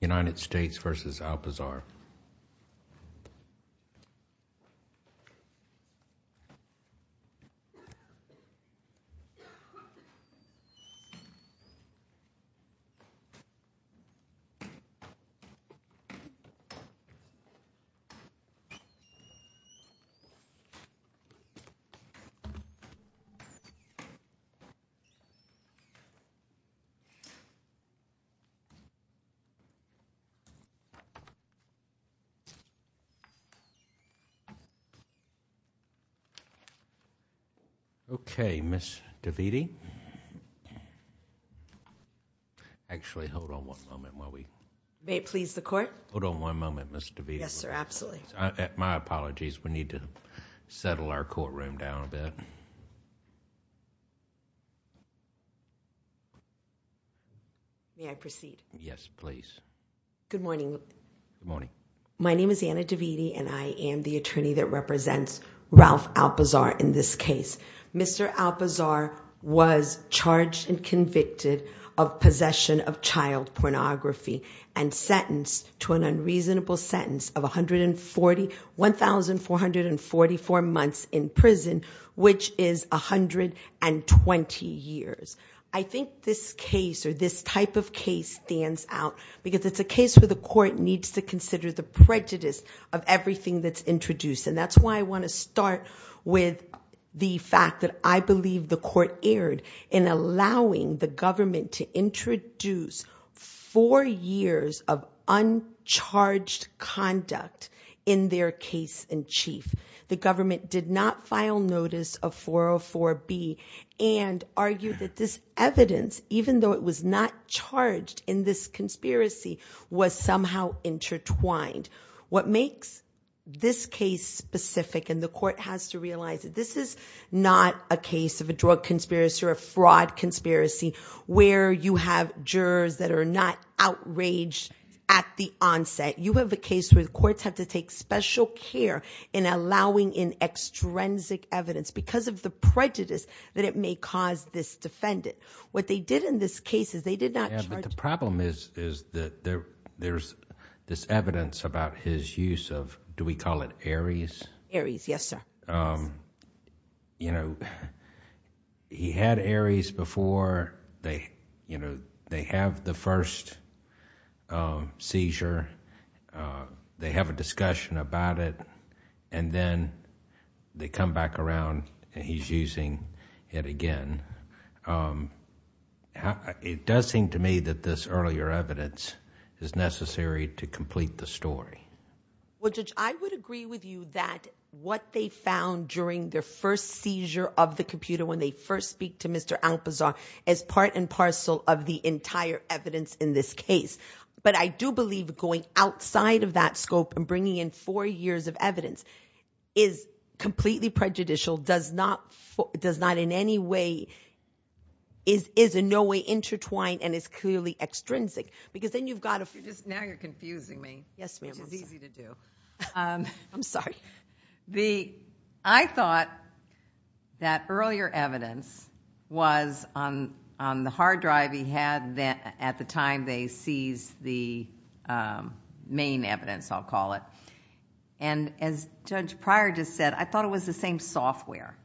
United States v. Alpizar Okay, Ms. DeViti. Actually, hold on one moment while we... May it please the Court? Hold on one moment, Ms. DeViti. Yes, sir, absolutely. My apologies. We need to settle our courtroom down a bit. May I proceed? Yes, please. Good morning. Good morning. My name is Anna DeViti, and I am the attorney that represents Ralph Alpizar in this case. Mr. Alpizar was charged and convicted of possession of child pornography and sentenced to an unreasonable sentence of 140... 1,444 months in prison, which is 120 years. I think this case or this type of case stands out because it's a case where the court needs to consider the prejudice of everything that's introduced. And that's why I want to start with the fact that I believe the court erred in allowing the government to introduce four years of uncharged conduct in their case in chief. The government did not file notice of 404B and argued that this evidence, even though it was not charged in this conspiracy, was somehow intertwined. What makes this case specific, and the court has to realize that this is not a case of a drug conspiracy or a fraud conspiracy where you have jurors that are not outraged at the onset. You have a case where the courts have to take special care in allowing in extrinsic evidence because of the prejudice that it may cause this defendant. What they did in this case is they did not charge... Yeah, but the problem is that there's this evidence about his use of, do we call it Aries? Aries, yes, sir. He had Aries before. They have the first seizure. They have a discussion about it, and then they come back around and he's using it again. It does seem to me that this earlier evidence is necessary to complete the story. Judge, I would agree with you that what they found during their first seizure of the computer when they first speak to Mr. Alpazar is part and parcel of the entire evidence in this case. But I do believe going outside of that scope and bringing in four years of evidence is completely prejudicial, is in no way intertwined, and is clearly extrinsic. Now you're confusing me, which is easy to do. I'm sorry. I thought that earlier evidence was on the hard drive he had at the time they seized the main evidence, I'll call it. As Judge Pryor just said, I thought it was the same software.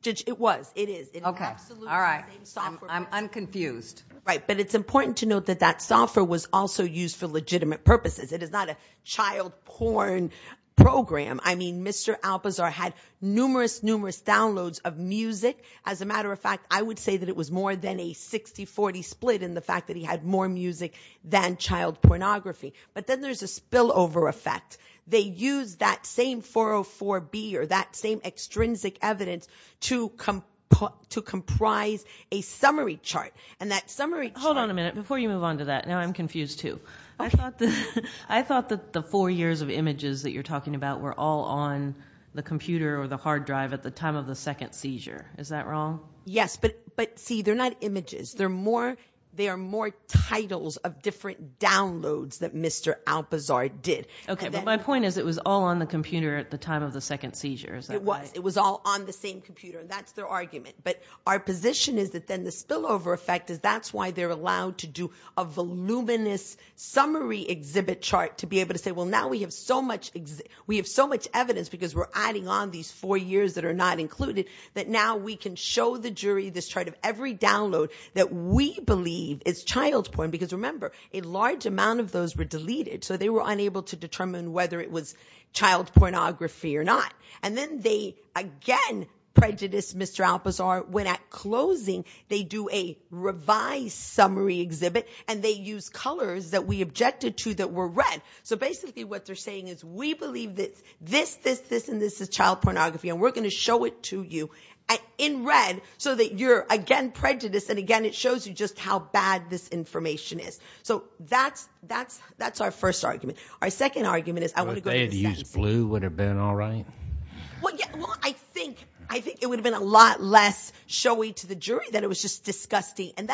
Judge, it was. It is. Okay. All right. I'm unconfused. Right, but it's important to note that that software was also used for legitimate purposes. It is not a child porn program. I mean, Mr. Alpazar had numerous, numerous downloads of music. As a matter of fact, I would say that it was more than a 60-40 split in the fact that he had more music than child pornography. But then there's a spillover effect. They used that same 404B or that same extrinsic evidence to comprise a summary chart, and that summary chart. Hold on a minute. Before you move on to that, now I'm confused too. I thought that the four years of images that you're talking about were all on the computer or the hard drive at the time of the second seizure. Is that wrong? Yes, but see, they're not images. They are more titles of different downloads that Mr. Alpazar did. Okay, but my point is it was all on the computer at the time of the second seizure. It was. It was all on the same computer. That's their argument. But our position is that then the spillover effect, that's why they're allowed to do a voluminous summary exhibit chart to be able to say, well, now we have so much evidence because we're adding on these four years that are not included that now we can show the jury this chart of every download that we believe is child porn because, remember, a large amount of those were deleted, so they were unable to determine whether it was child pornography or not. And then they, again, prejudiced Mr. Alpazar when at closing they do a revised summary exhibit and they use colors that we objected to that were red. So basically what they're saying is we believe this, this, this, and this is child pornography and we're going to show it to you in red so that you're, again, prejudiced, and again it shows you just how bad this information is. So that's our first argument. Our second argument is I want to go to the second. If they had used blue, would it have been all right? Well, I think it would have been a lot less showy to the jury than it was just disgusting. And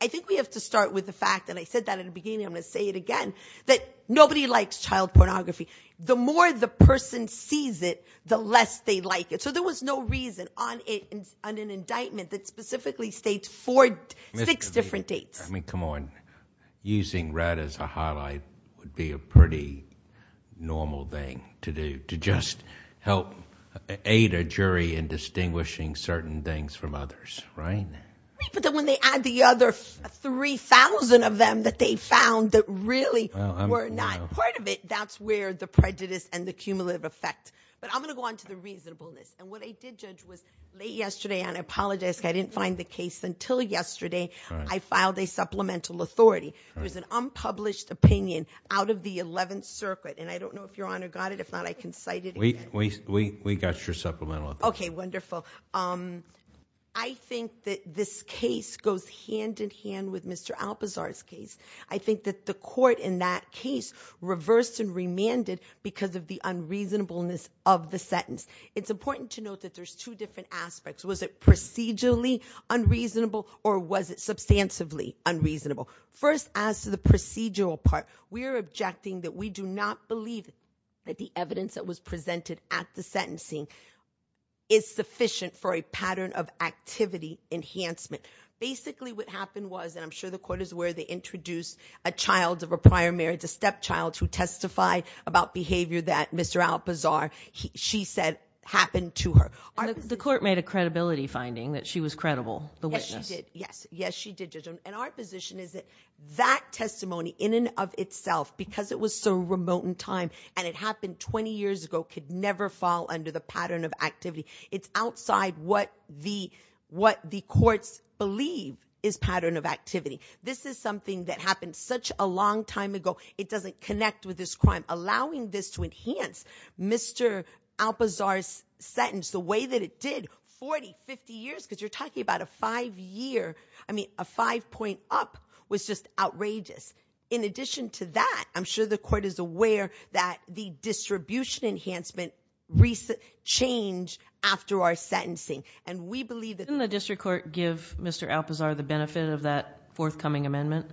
I think we have to start with the fact, and I said that at the beginning, I'm going to say it again, that nobody likes child pornography. The more the person sees it, the less they like it. So there was no reason on an indictment that specifically states six different dates. I mean, come on. Using red as a highlight would be a pretty normal thing to do to just help aid a jury in distinguishing certain things from others, right? But then when they add the other 3,000 of them that they found that really were not part of it, that's where the prejudice and the cumulative effect. But I'm going to go on to the reasonableness. And what I did judge was late yesterday, and I apologize because I didn't find the case until yesterday I filed a supplemental authority. It was an unpublished opinion out of the Eleventh Circuit. And I don't know if Your Honor got it. If not, I can cite it again. We got your supplemental authority. Okay, wonderful. I think that this case goes hand-in-hand with Mr. Alpazar's case. I think that the court in that case reversed and remanded because of the unreasonableness of the sentence. It's important to note that there's two different aspects. Was it procedurally unreasonable or was it substantively unreasonable? First, as to the procedural part, we are objecting that we do not believe that the evidence that was presented at the sentencing is sufficient for a pattern of activity enhancement. Basically, what happened was, and I'm sure the court is aware, they introduced a child of a prior marriage, a stepchild, who testified about behavior that Mr. Alpazar, she said, happened to her. The court made a credibility finding that she was credible, the witness. Yes, she did. And our position is that that testimony in and of itself, because it was so remote in time and it happened 20 years ago, could never fall under the pattern of activity. It's outside what the courts believe is pattern of activity. This is something that happened such a long time ago. It doesn't connect with this crime. Allowing this to enhance Mr. Alpazar's sentence the way that it did 40, 50 years, because you're talking about a five-year, I mean a five-point up, was just outrageous. In addition to that, I'm sure the court is aware that the distribution enhancement changed after our sentencing. And we believe that— Didn't the district court give Mr. Alpazar the benefit of that forthcoming amendment?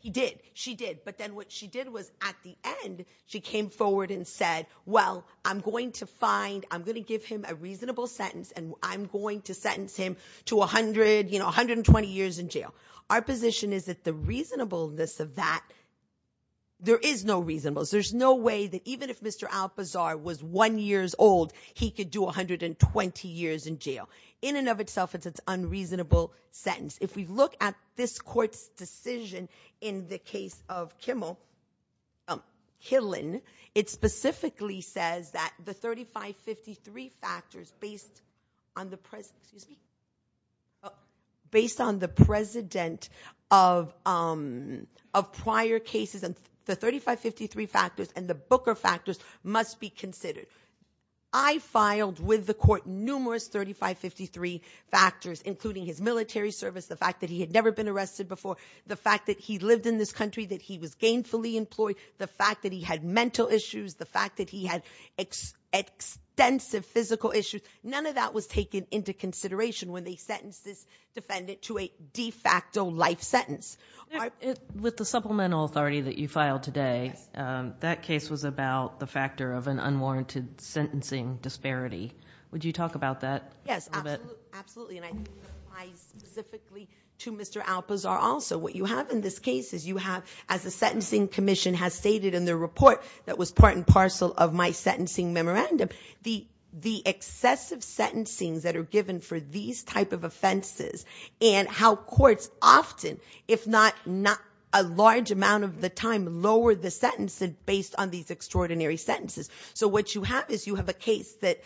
He did. She did. But then what she did was, at the end, she came forward and said, well, I'm going to find, I'm going to give him a reasonable sentence, and I'm going to sentence him to 120 years in jail. Our position is that the reasonableness of that, there is no reasonableness. There's no way that even if Mr. Alpazar was one years old, he could do 120 years in jail. In and of itself, it's an unreasonable sentence. If we look at this court's decision in the case of Kimmel—Killen, it specifically says that the 3553 factors based on the president of prior cases, the 3553 factors and the Booker factors must be considered. I filed with the court numerous 3553 factors, including his military service, the fact that he had never been arrested before, the fact that he lived in this country, that he was gainfully employed, the fact that he had mental issues, the fact that he had extensive physical issues. None of that was taken into consideration when they sentenced this defendant to a de facto life sentence. With the supplemental authority that you filed today, that case was about the factor of an unwarranted sentencing disparity. Would you talk about that a little bit? Yes, absolutely, and I think it applies specifically to Mr. Alpazar also. What you have in this case is you have, as the Sentencing Commission has stated in their report that was part and parcel of my sentencing memorandum, the excessive sentencings that are given for these type of offenses and how courts often, if not a large amount of the time, lower the sentence based on these extraordinary sentences. So what you have is you have a case that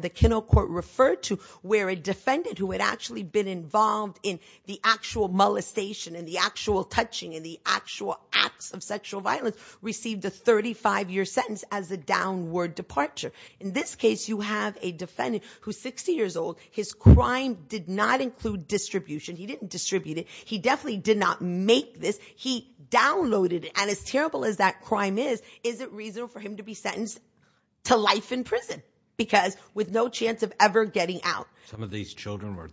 the Kennel Court referred to where a defendant who had actually been involved in the actual molestation and the actual touching and the actual acts of sexual violence received a 35-year sentence as a downward departure. In this case, you have a defendant who's 60 years old. His crime did not include distribution. He didn't distribute it. He definitely did not make this. He downloaded it, and as terrible as that crime is, is it reasonable for him to be sentenced to life in prison because with no chance of ever getting out? Some of these children were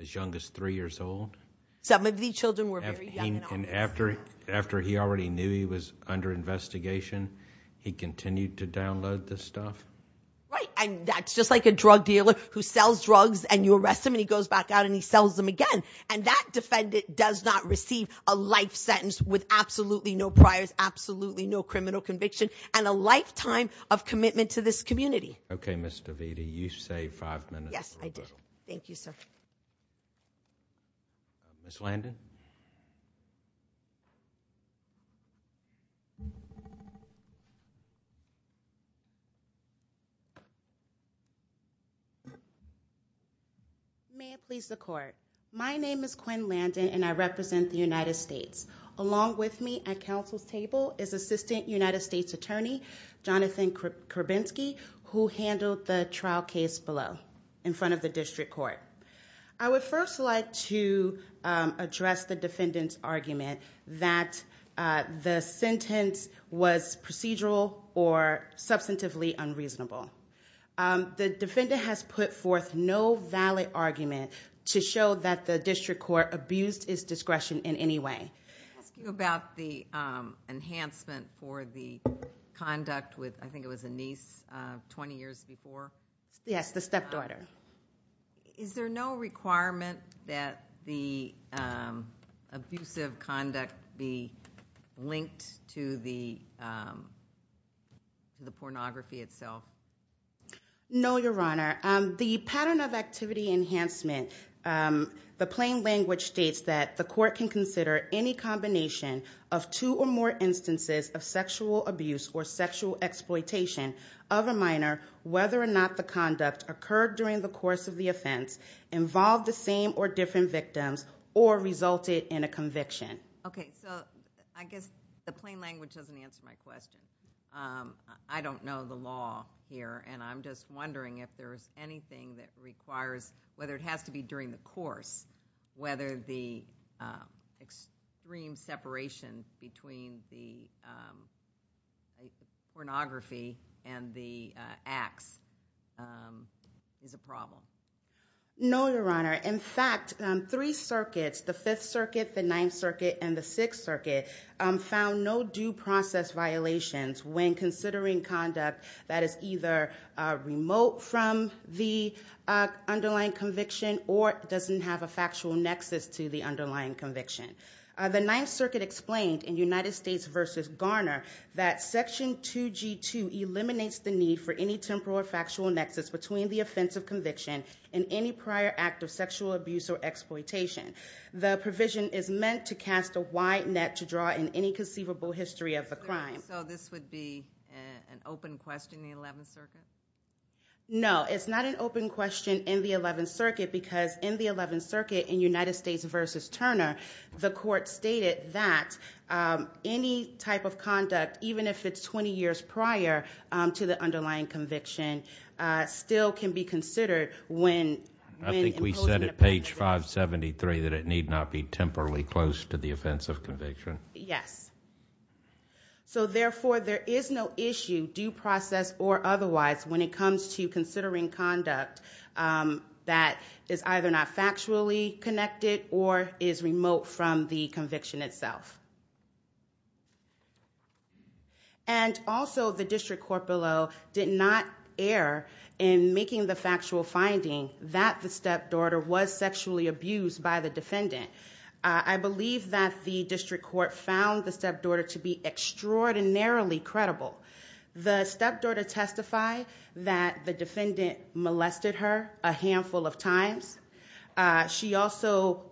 as young as 3 years old? Some of these children were very young. And after he already knew he was under investigation, he continued to download this stuff? Right, and that's just like a drug dealer who sells drugs, and you arrest him, and he goes back out, and he sells them again. And that defendant does not receive a life sentence with absolutely no priors, absolutely no criminal conviction, and a lifetime of commitment to this community. Okay, Ms. DeVita, you saved five minutes. Yes, I did. Thank you, sir. Ms. Landon? May it please the court. My name is Quinn Landon, and I represent the United States. Along with me at council's table is Assistant United States Attorney Jonathan Kurbinski, who handled the trial case below in front of the district court. I would first like to address the defendant's argument that the sentence was procedural or substantively unreasonable. The defendant has put forth no valid argument to show that the district court abused its discretion in any way. I'm asking about the enhancement for the conduct with, I think it was a niece, 20 years before? Yes, the stepdaughter. Is there no requirement that the abusive conduct be linked to the pornography itself? No, Your Honor. The pattern of activity enhancement, the plain language states that the court can consider any combination of two or more instances of sexual abuse or sexual exploitation of a minor, whether or not the conduct occurred during the course of the offense, involved the same or different victims, or resulted in a conviction. Okay, so I guess the plain language doesn't answer my question. I don't know the law here, and I'm just wondering if there's anything that requires, whether it has to be during the course, whether the extreme separation between the pornography and the acts is a problem. No, Your Honor. In fact, three circuits, the 5th Circuit, the 9th Circuit, and the 6th Circuit, found no due process violations when considering conduct that is either remote from the underlying conviction or doesn't have a factual nexus to the underlying conviction. The 9th Circuit explained in United States v. Garner that Section 2G2 eliminates the need for any temporal or factual nexus between the offense of conviction and any prior act of sexual abuse or exploitation. The provision is meant to cast a wide net to draw in any conceivable history of the crime. So this would be an open question in the 11th Circuit? No, it's not an open question in the 11th Circuit Your Honor, the court stated that any type of conduct, even if it's 20 years prior to the underlying conviction, still can be considered when imposing a penalty. I think we said at page 573 that it need not be temporally close to the offense of conviction. Yes. So therefore, there is no issue, due process or otherwise, when it comes to considering conduct that is either not factually connected or is remote from the conviction itself. And also, the district court below did not err in making the factual finding that the stepdaughter was sexually abused by the defendant. I believe that the district court found the stepdaughter to be extraordinarily credible. The stepdaughter testified that the defendant molested her a handful of times. She also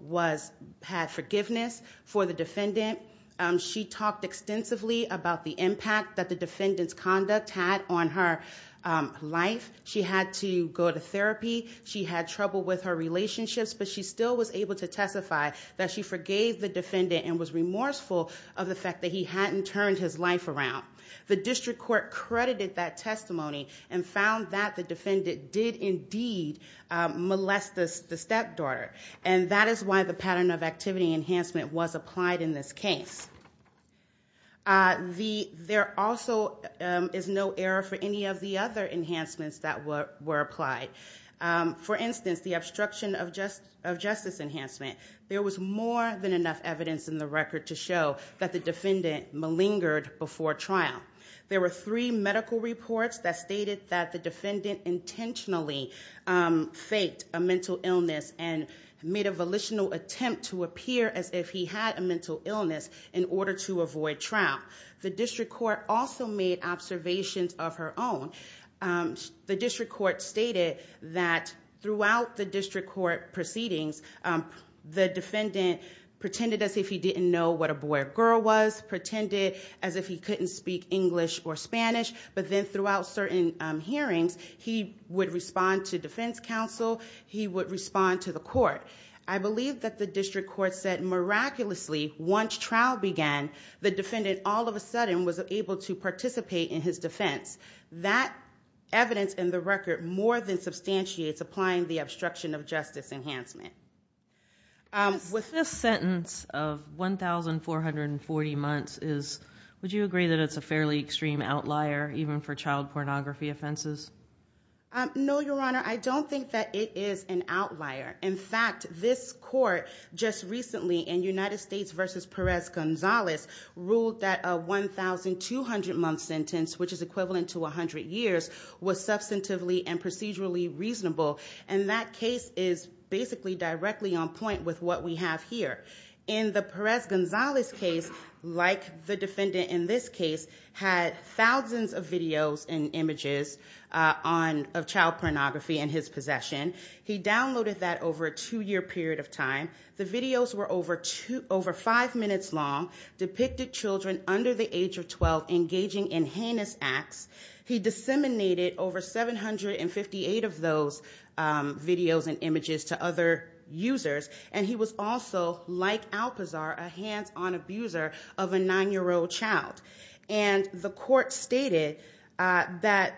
had forgiveness for the defendant. She talked extensively about the impact that the defendant's conduct had on her life. She had to go to therapy. She had trouble with her relationships. But she still was able to testify that she forgave the defendant and was remorseful of the fact that he hadn't turned his life around. The district court credited that testimony and found that the defendant did indeed molest the stepdaughter. And that is why the pattern of activity enhancement was applied in this case. There also is no error for any of the other enhancements that were applied. For instance, the obstruction of justice enhancement. There was more than enough evidence in the record to show that the defendant malingered before trial. There were three medical reports that stated that the defendant intentionally faked a mental illness and made a volitional attempt to appear as if he had a mental illness in order to avoid trial. The district court also made observations of her own. The district court stated that throughout the district court proceedings, the defendant pretended as if he didn't know what a boy or girl was, pretended as if he couldn't speak English or Spanish, but then throughout certain hearings, he would respond to defense counsel, he would respond to the court. I believe that the district court said miraculously once trial began, the defendant all of a sudden was able to participate in his defense. That evidence in the record more than substantiates applying the obstruction of justice enhancement. This sentence of 1,440 months, would you agree that it's a fairly extreme outlier even for child pornography offenses? No, Your Honor. I don't think that it is an outlier. In fact, this court just recently in United States v. Perez-Gonzalez ruled that a 1,200-month sentence, which is equivalent to 100 years, was substantively and procedurally reasonable. And that case is basically directly on point with what we have here. In the Perez-Gonzalez case, like the defendant in this case, had thousands of videos and images of child pornography in his possession. He downloaded that over a two-year period of time. The videos were over five minutes long, depicted children under the age of 12 engaging in heinous acts. He disseminated over 758 of those videos and images to other users. And he was also, like Alpazar, a hands-on abuser of a nine-year-old child. And the court stated that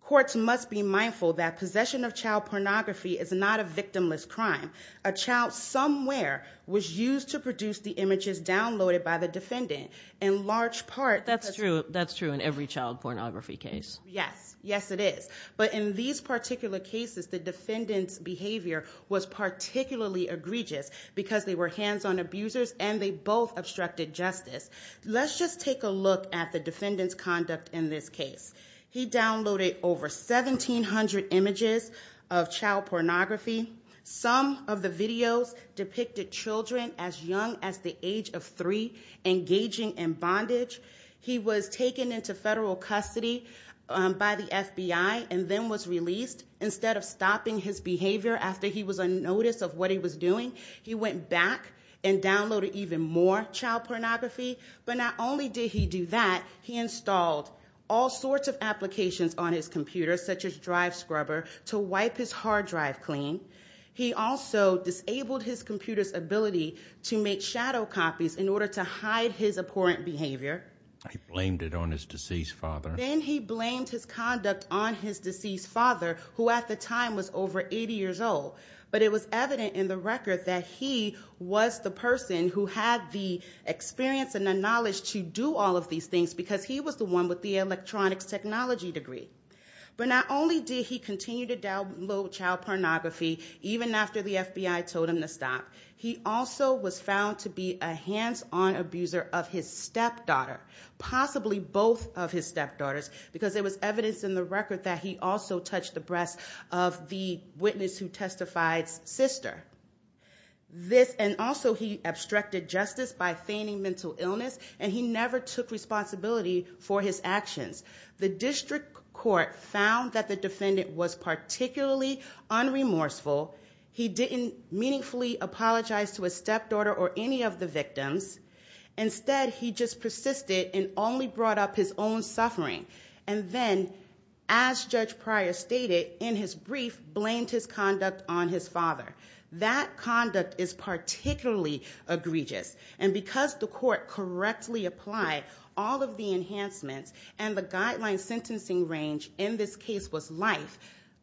courts must be mindful that possession of child pornography is not a victimless crime. A child somewhere was used to produce the images downloaded by the defendant. That's true. That's true in every child pornography case. Yes. Yes, it is. But in these particular cases, the defendant's behavior was particularly egregious because they were hands-on abusers and they both obstructed justice. Let's just take a look at the defendant's conduct in this case. He downloaded over 1,700 images of child pornography. Some of the videos depicted children as young as the age of three engaging in bondage. He was taken into federal custody by the FBI and then was released. Instead of stopping his behavior after he was unnoticed of what he was doing, he went back and downloaded even more child pornography. But not only did he do that, he installed all sorts of applications on his computer, such as Drive Scrubber, to wipe his hard drive clean. He also disabled his computer's ability to make shadow copies in order to hide his abhorrent behavior. He blamed it on his deceased father. Then he blamed his conduct on his deceased father, who at the time was over 80 years old. But it was evident in the record that he was the person who had the experience and the knowledge to do all of these things because he was the one with the electronics technology degree. But not only did he continue to download child pornography even after the FBI told him to stop, he also was found to be a hands-on abuser of his stepdaughter, possibly both of his stepdaughters, because there was evidence in the record that he also touched the breasts of the witness who testified's sister. And also he obstructed justice by feigning mental illness, and he never took responsibility for his actions. The district court found that the defendant was particularly unremorseful. He didn't meaningfully apologize to his stepdaughter or any of the victims. Instead, he just persisted and only brought up his own suffering. And then, as Judge Pryor stated in his brief, blamed his conduct on his father. That conduct is particularly egregious. And because the court correctly applied all of the enhancements and the guideline sentencing range, in this case was life,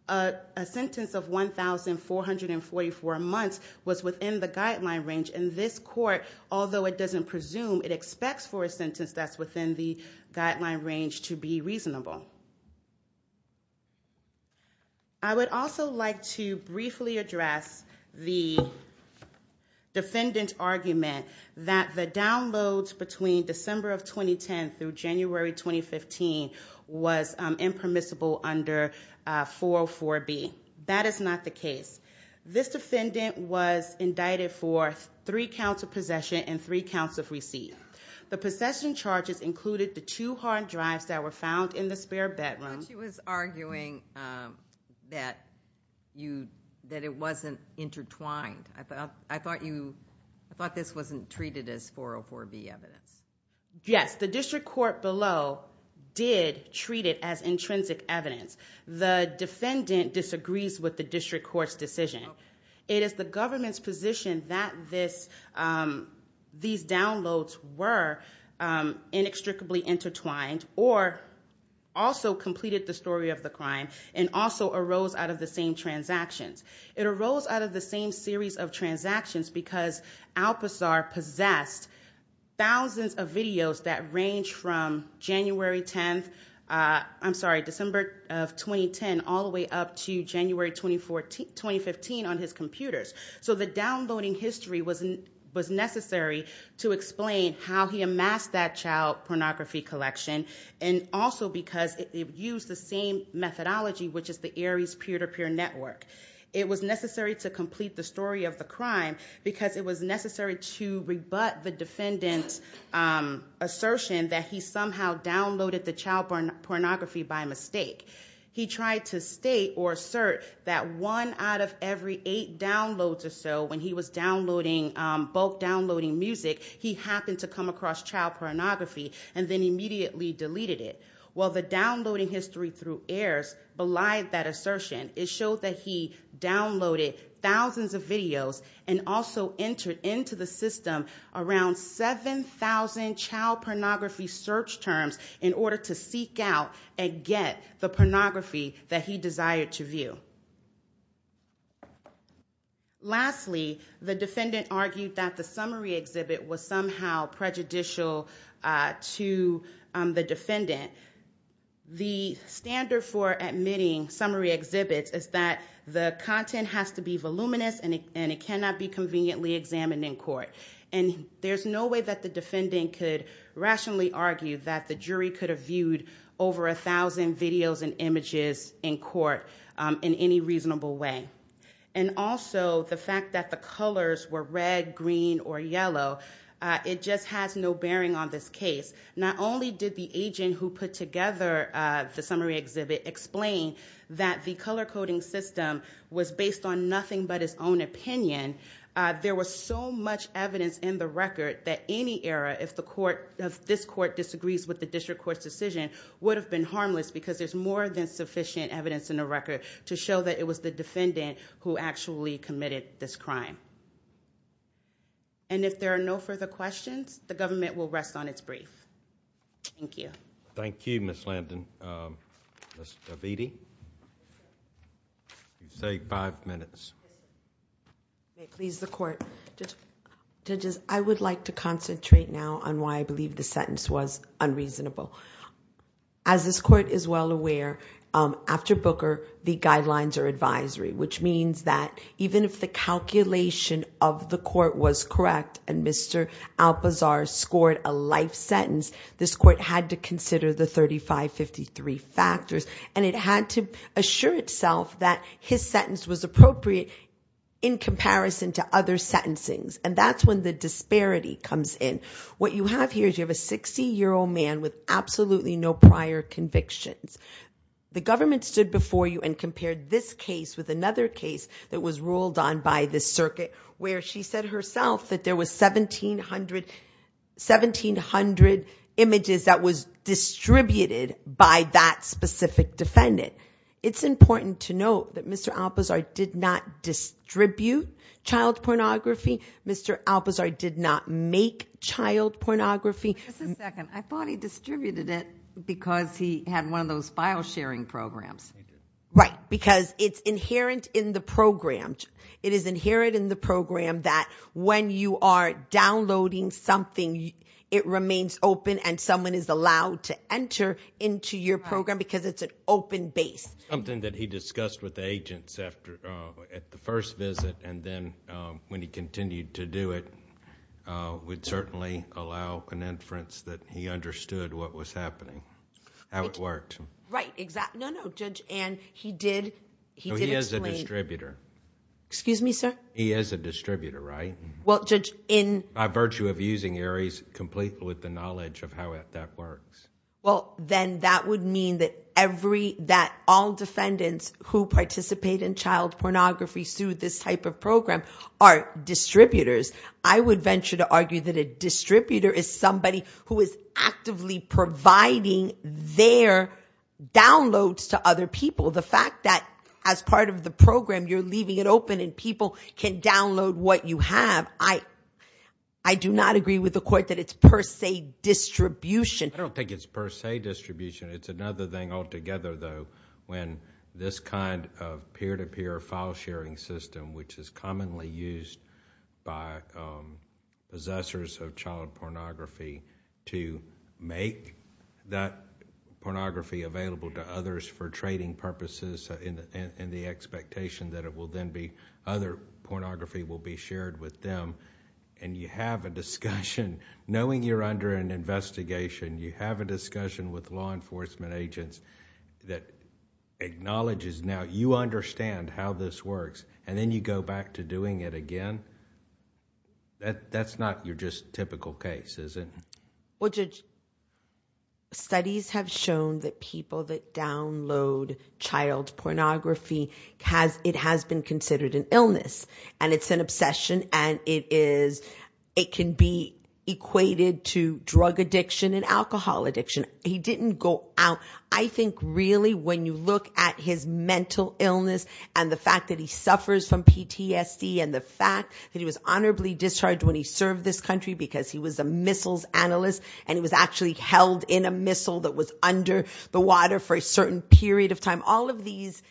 a sentence of 1,444 months was within the guideline range. And this court, although it doesn't presume, it expects for a sentence that's within the guideline range to be reasonable. I would also like to briefly address the defendant's argument that the downloads between December of 2010 through January 2015 was impermissible under 404B. That is not the case. This defendant was indicted for three counts of possession and three counts of receipt. The possession charges included the two hard drives that were found in the spare bedroom. She was arguing that it wasn't intertwined. I thought this wasn't treated as 404B evidence. Yes, the district court below did treat it as intrinsic evidence. The defendant disagrees with the district court's decision. It is the government's position that these downloads were inextricably intertwined or also completed the story of the crime and also arose out of the same transactions. It arose out of the same series of transactions because Alpazar possessed thousands of videos that range from December of 2010 all the way up to January 2015 on his computers. So the downloading history was necessary to explain how he amassed that child pornography collection and also because it used the same methodology, which is the Aries peer-to-peer network. It was necessary to complete the story of the crime because it was necessary to rebut the defendant's assertion that he somehow downloaded the child pornography by mistake. He tried to state or assert that one out of every eight downloads or so, when he was bulk downloading music, he happened to come across child pornography and then immediately deleted it. Well, the downloading history through Ares belied that assertion. It showed that he downloaded thousands of videos and also entered into the system around 7,000 child pornography search terms in order to seek out and get the pornography that he desired to view. Lastly, the defendant argued that the summary exhibit was somehow prejudicial to the defendant. The standard for admitting summary exhibits is that the content has to be voluminous and it cannot be conveniently examined in court. And there's no way that the defendant could rationally argue that the jury could have viewed over 1,000 videos and images in court in any reasonable way. And also, the fact that the colors were red, green, or yellow, it just has no bearing on this case. Not only did the agent who put together the summary exhibit explain that the color-coding system was based on nothing but his own opinion, there was so much evidence in the record that any error, if this court disagrees with the district court's decision, would have been harmless because there's more than sufficient evidence in the record to show that it was the defendant who actually committed this crime. And if there are no further questions, the government will rest on its brief. Thank you. Thank you, Ms. Lambden. Ms. Davidi? You have five minutes. Please, the court. Judges, I would like to concentrate now on why I believe the sentence was unreasonable. As this court is well aware, after Booker, the guidelines are advisory, which means that even if the calculation of the court was correct and Mr. Alpazar scored a life sentence, this court had to consider the 3553 factors. And it had to assure itself that his sentence was appropriate in comparison to other sentencings. And that's when the disparity comes in. What you have here is you have a 60-year-old man with absolutely no prior convictions. The government stood before you and compared this case with another case that was ruled on by the circuit where she said herself that there was 1,700 images that was distributed by that specific defendant. It's important to note that Mr. Alpazar did not distribute child pornography. Mr. Alpazar did not make child pornography. Just a second. I thought he distributed it because he had one of those file-sharing programs. Right, because it's inherent in the program. It is inherent in the program that when you are downloading something, it remains open and someone is allowed to enter into your program because it's an open base. Something that he discussed with the agents at the first visit and then when he continued to do it would certainly allow an inference that he understood what was happening, how it worked. Right, exactly. No, no, Judge Ann, he did explain. He is a distributor. Excuse me, sir? He is a distributor, right? By virtue of using ARIES complete with the knowledge of how that works. Well, then that would mean that all defendants who participate in child pornography through this type of program are distributors. I would venture to argue that a distributor is somebody who is actively providing their downloads to other people. The fact that as part of the program you're leaving it open and people can download what you have, I do not agree with the court that it's per se distribution. I don't think it's per se distribution. It's another thing altogether, though, when this kind of peer-to-peer file-sharing system, which is commonly used by possessors of child pornography, to make that pornography available to others for trading purposes and the expectation that it will then be... other pornography will be shared with them. You have a discussion. Knowing you're under an investigation, you have a discussion with law enforcement agents that acknowledges now you understand how this works and then you go back to doing it again. That's not your just typical case, is it? Well, Judge, studies have shown that people that download child pornography, it has been considered an illness and it's an obsession and it can be equated to drug addiction and alcohol addiction. He didn't go out. I think really when you look at his mental illness and the fact that he suffers from PTSD and the fact that he was honorably discharged when he served this country because he was a missiles analyst and he was actually held in a missile that was under the water for a certain period of time, all of these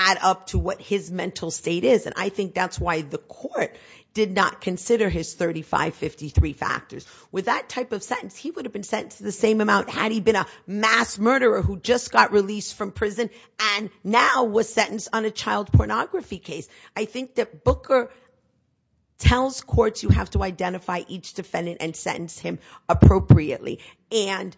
add up to what his mental state is, and I think that's why the court did not consider his 3553 factors. With that type of sentence, he would have been sentenced to the same amount had he been a mass murderer who just got released from prison and now was sentenced on a child pornography case. I think that Booker tells courts you have to identify each defendant and sentence him appropriately, and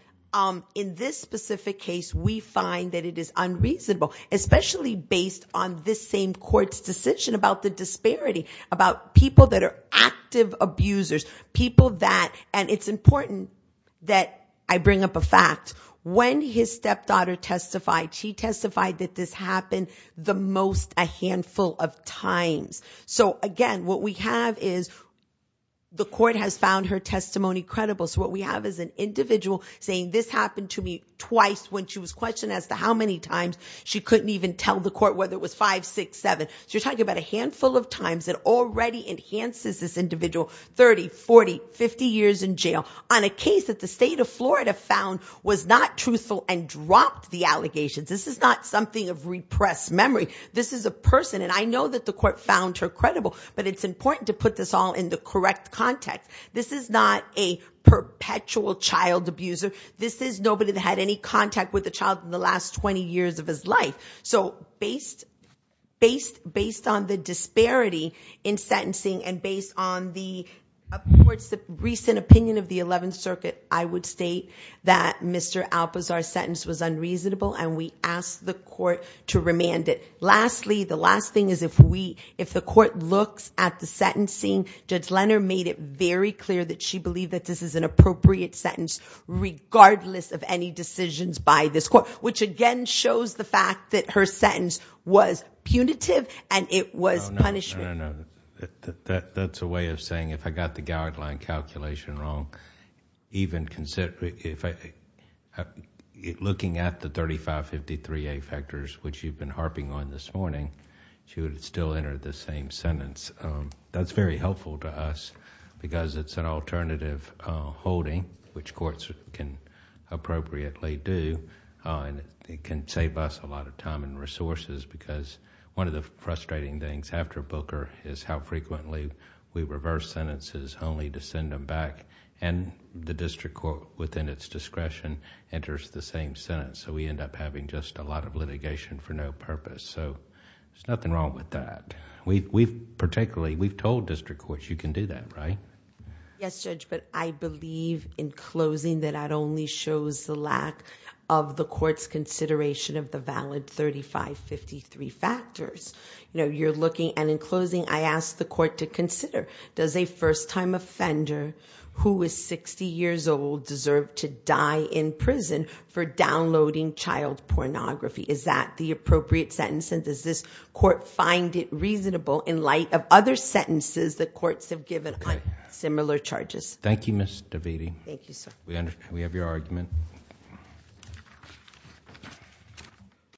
in this specific case we find that it is unreasonable, especially based on this same court's decision about the disparity, about people that are active abusers, people that, and it's important that I bring up a fact. When his stepdaughter testified, she testified that this happened the most a handful of times. So, again, what we have is the court has found her testimony credible, so what we have is an individual saying this happened to me twice when she was questioned as to how many times she couldn't even tell the court whether it was five, six, seven. So you're talking about a handful of times. It already enhances this individual 30, 40, 50 years in jail on a case that the state of Florida found was not truthful and dropped the allegations. This is not something of repressed memory. This is a person, and I know that the court found her credible, but it's important to put this all in the correct context. This is not a perpetual child abuser. This is nobody that had any contact with a child in the last 20 years of his life. So based on the disparity in sentencing and based on the court's recent opinion of the 11th Circuit, I would state that Mr. Alpazar's sentence was unreasonable and we ask the court to remand it. Lastly, the last thing is if the court looks at the sentencing, Judge Lenner made it very clear that she believed that this is an appropriate sentence regardless of any decisions by this court, which again shows the fact that her sentence was punitive and it was punishment. No, no, no. That's a way of saying if I got the guideline calculation wrong, even looking at the 3553A factors, which you've been harping on this morning, she would still enter the same sentence. That's very helpful to us because it's an alternative holding, which courts can appropriately do, and it can save us a lot of time and resources because one of the frustrating things after Booker is how frequently we reverse sentences only to send them back and the district court within its discretion enters the same sentence. We end up having just a lot of litigation for no purpose. There's nothing wrong with that. Particularly, we've told district courts you can do that, right? Yes, Judge, but I believe in closing that that only shows the lack of the court's consideration of the valid 3553 factors. Does a first-time offender who is 60 years old deserve to die in prison for downloading child pornography? Is that the appropriate sentence, and does this court find it reasonable in light of other sentences that courts have given on similar charges? Thank you, Ms. Davidi. Thank you, sir. We have your argument.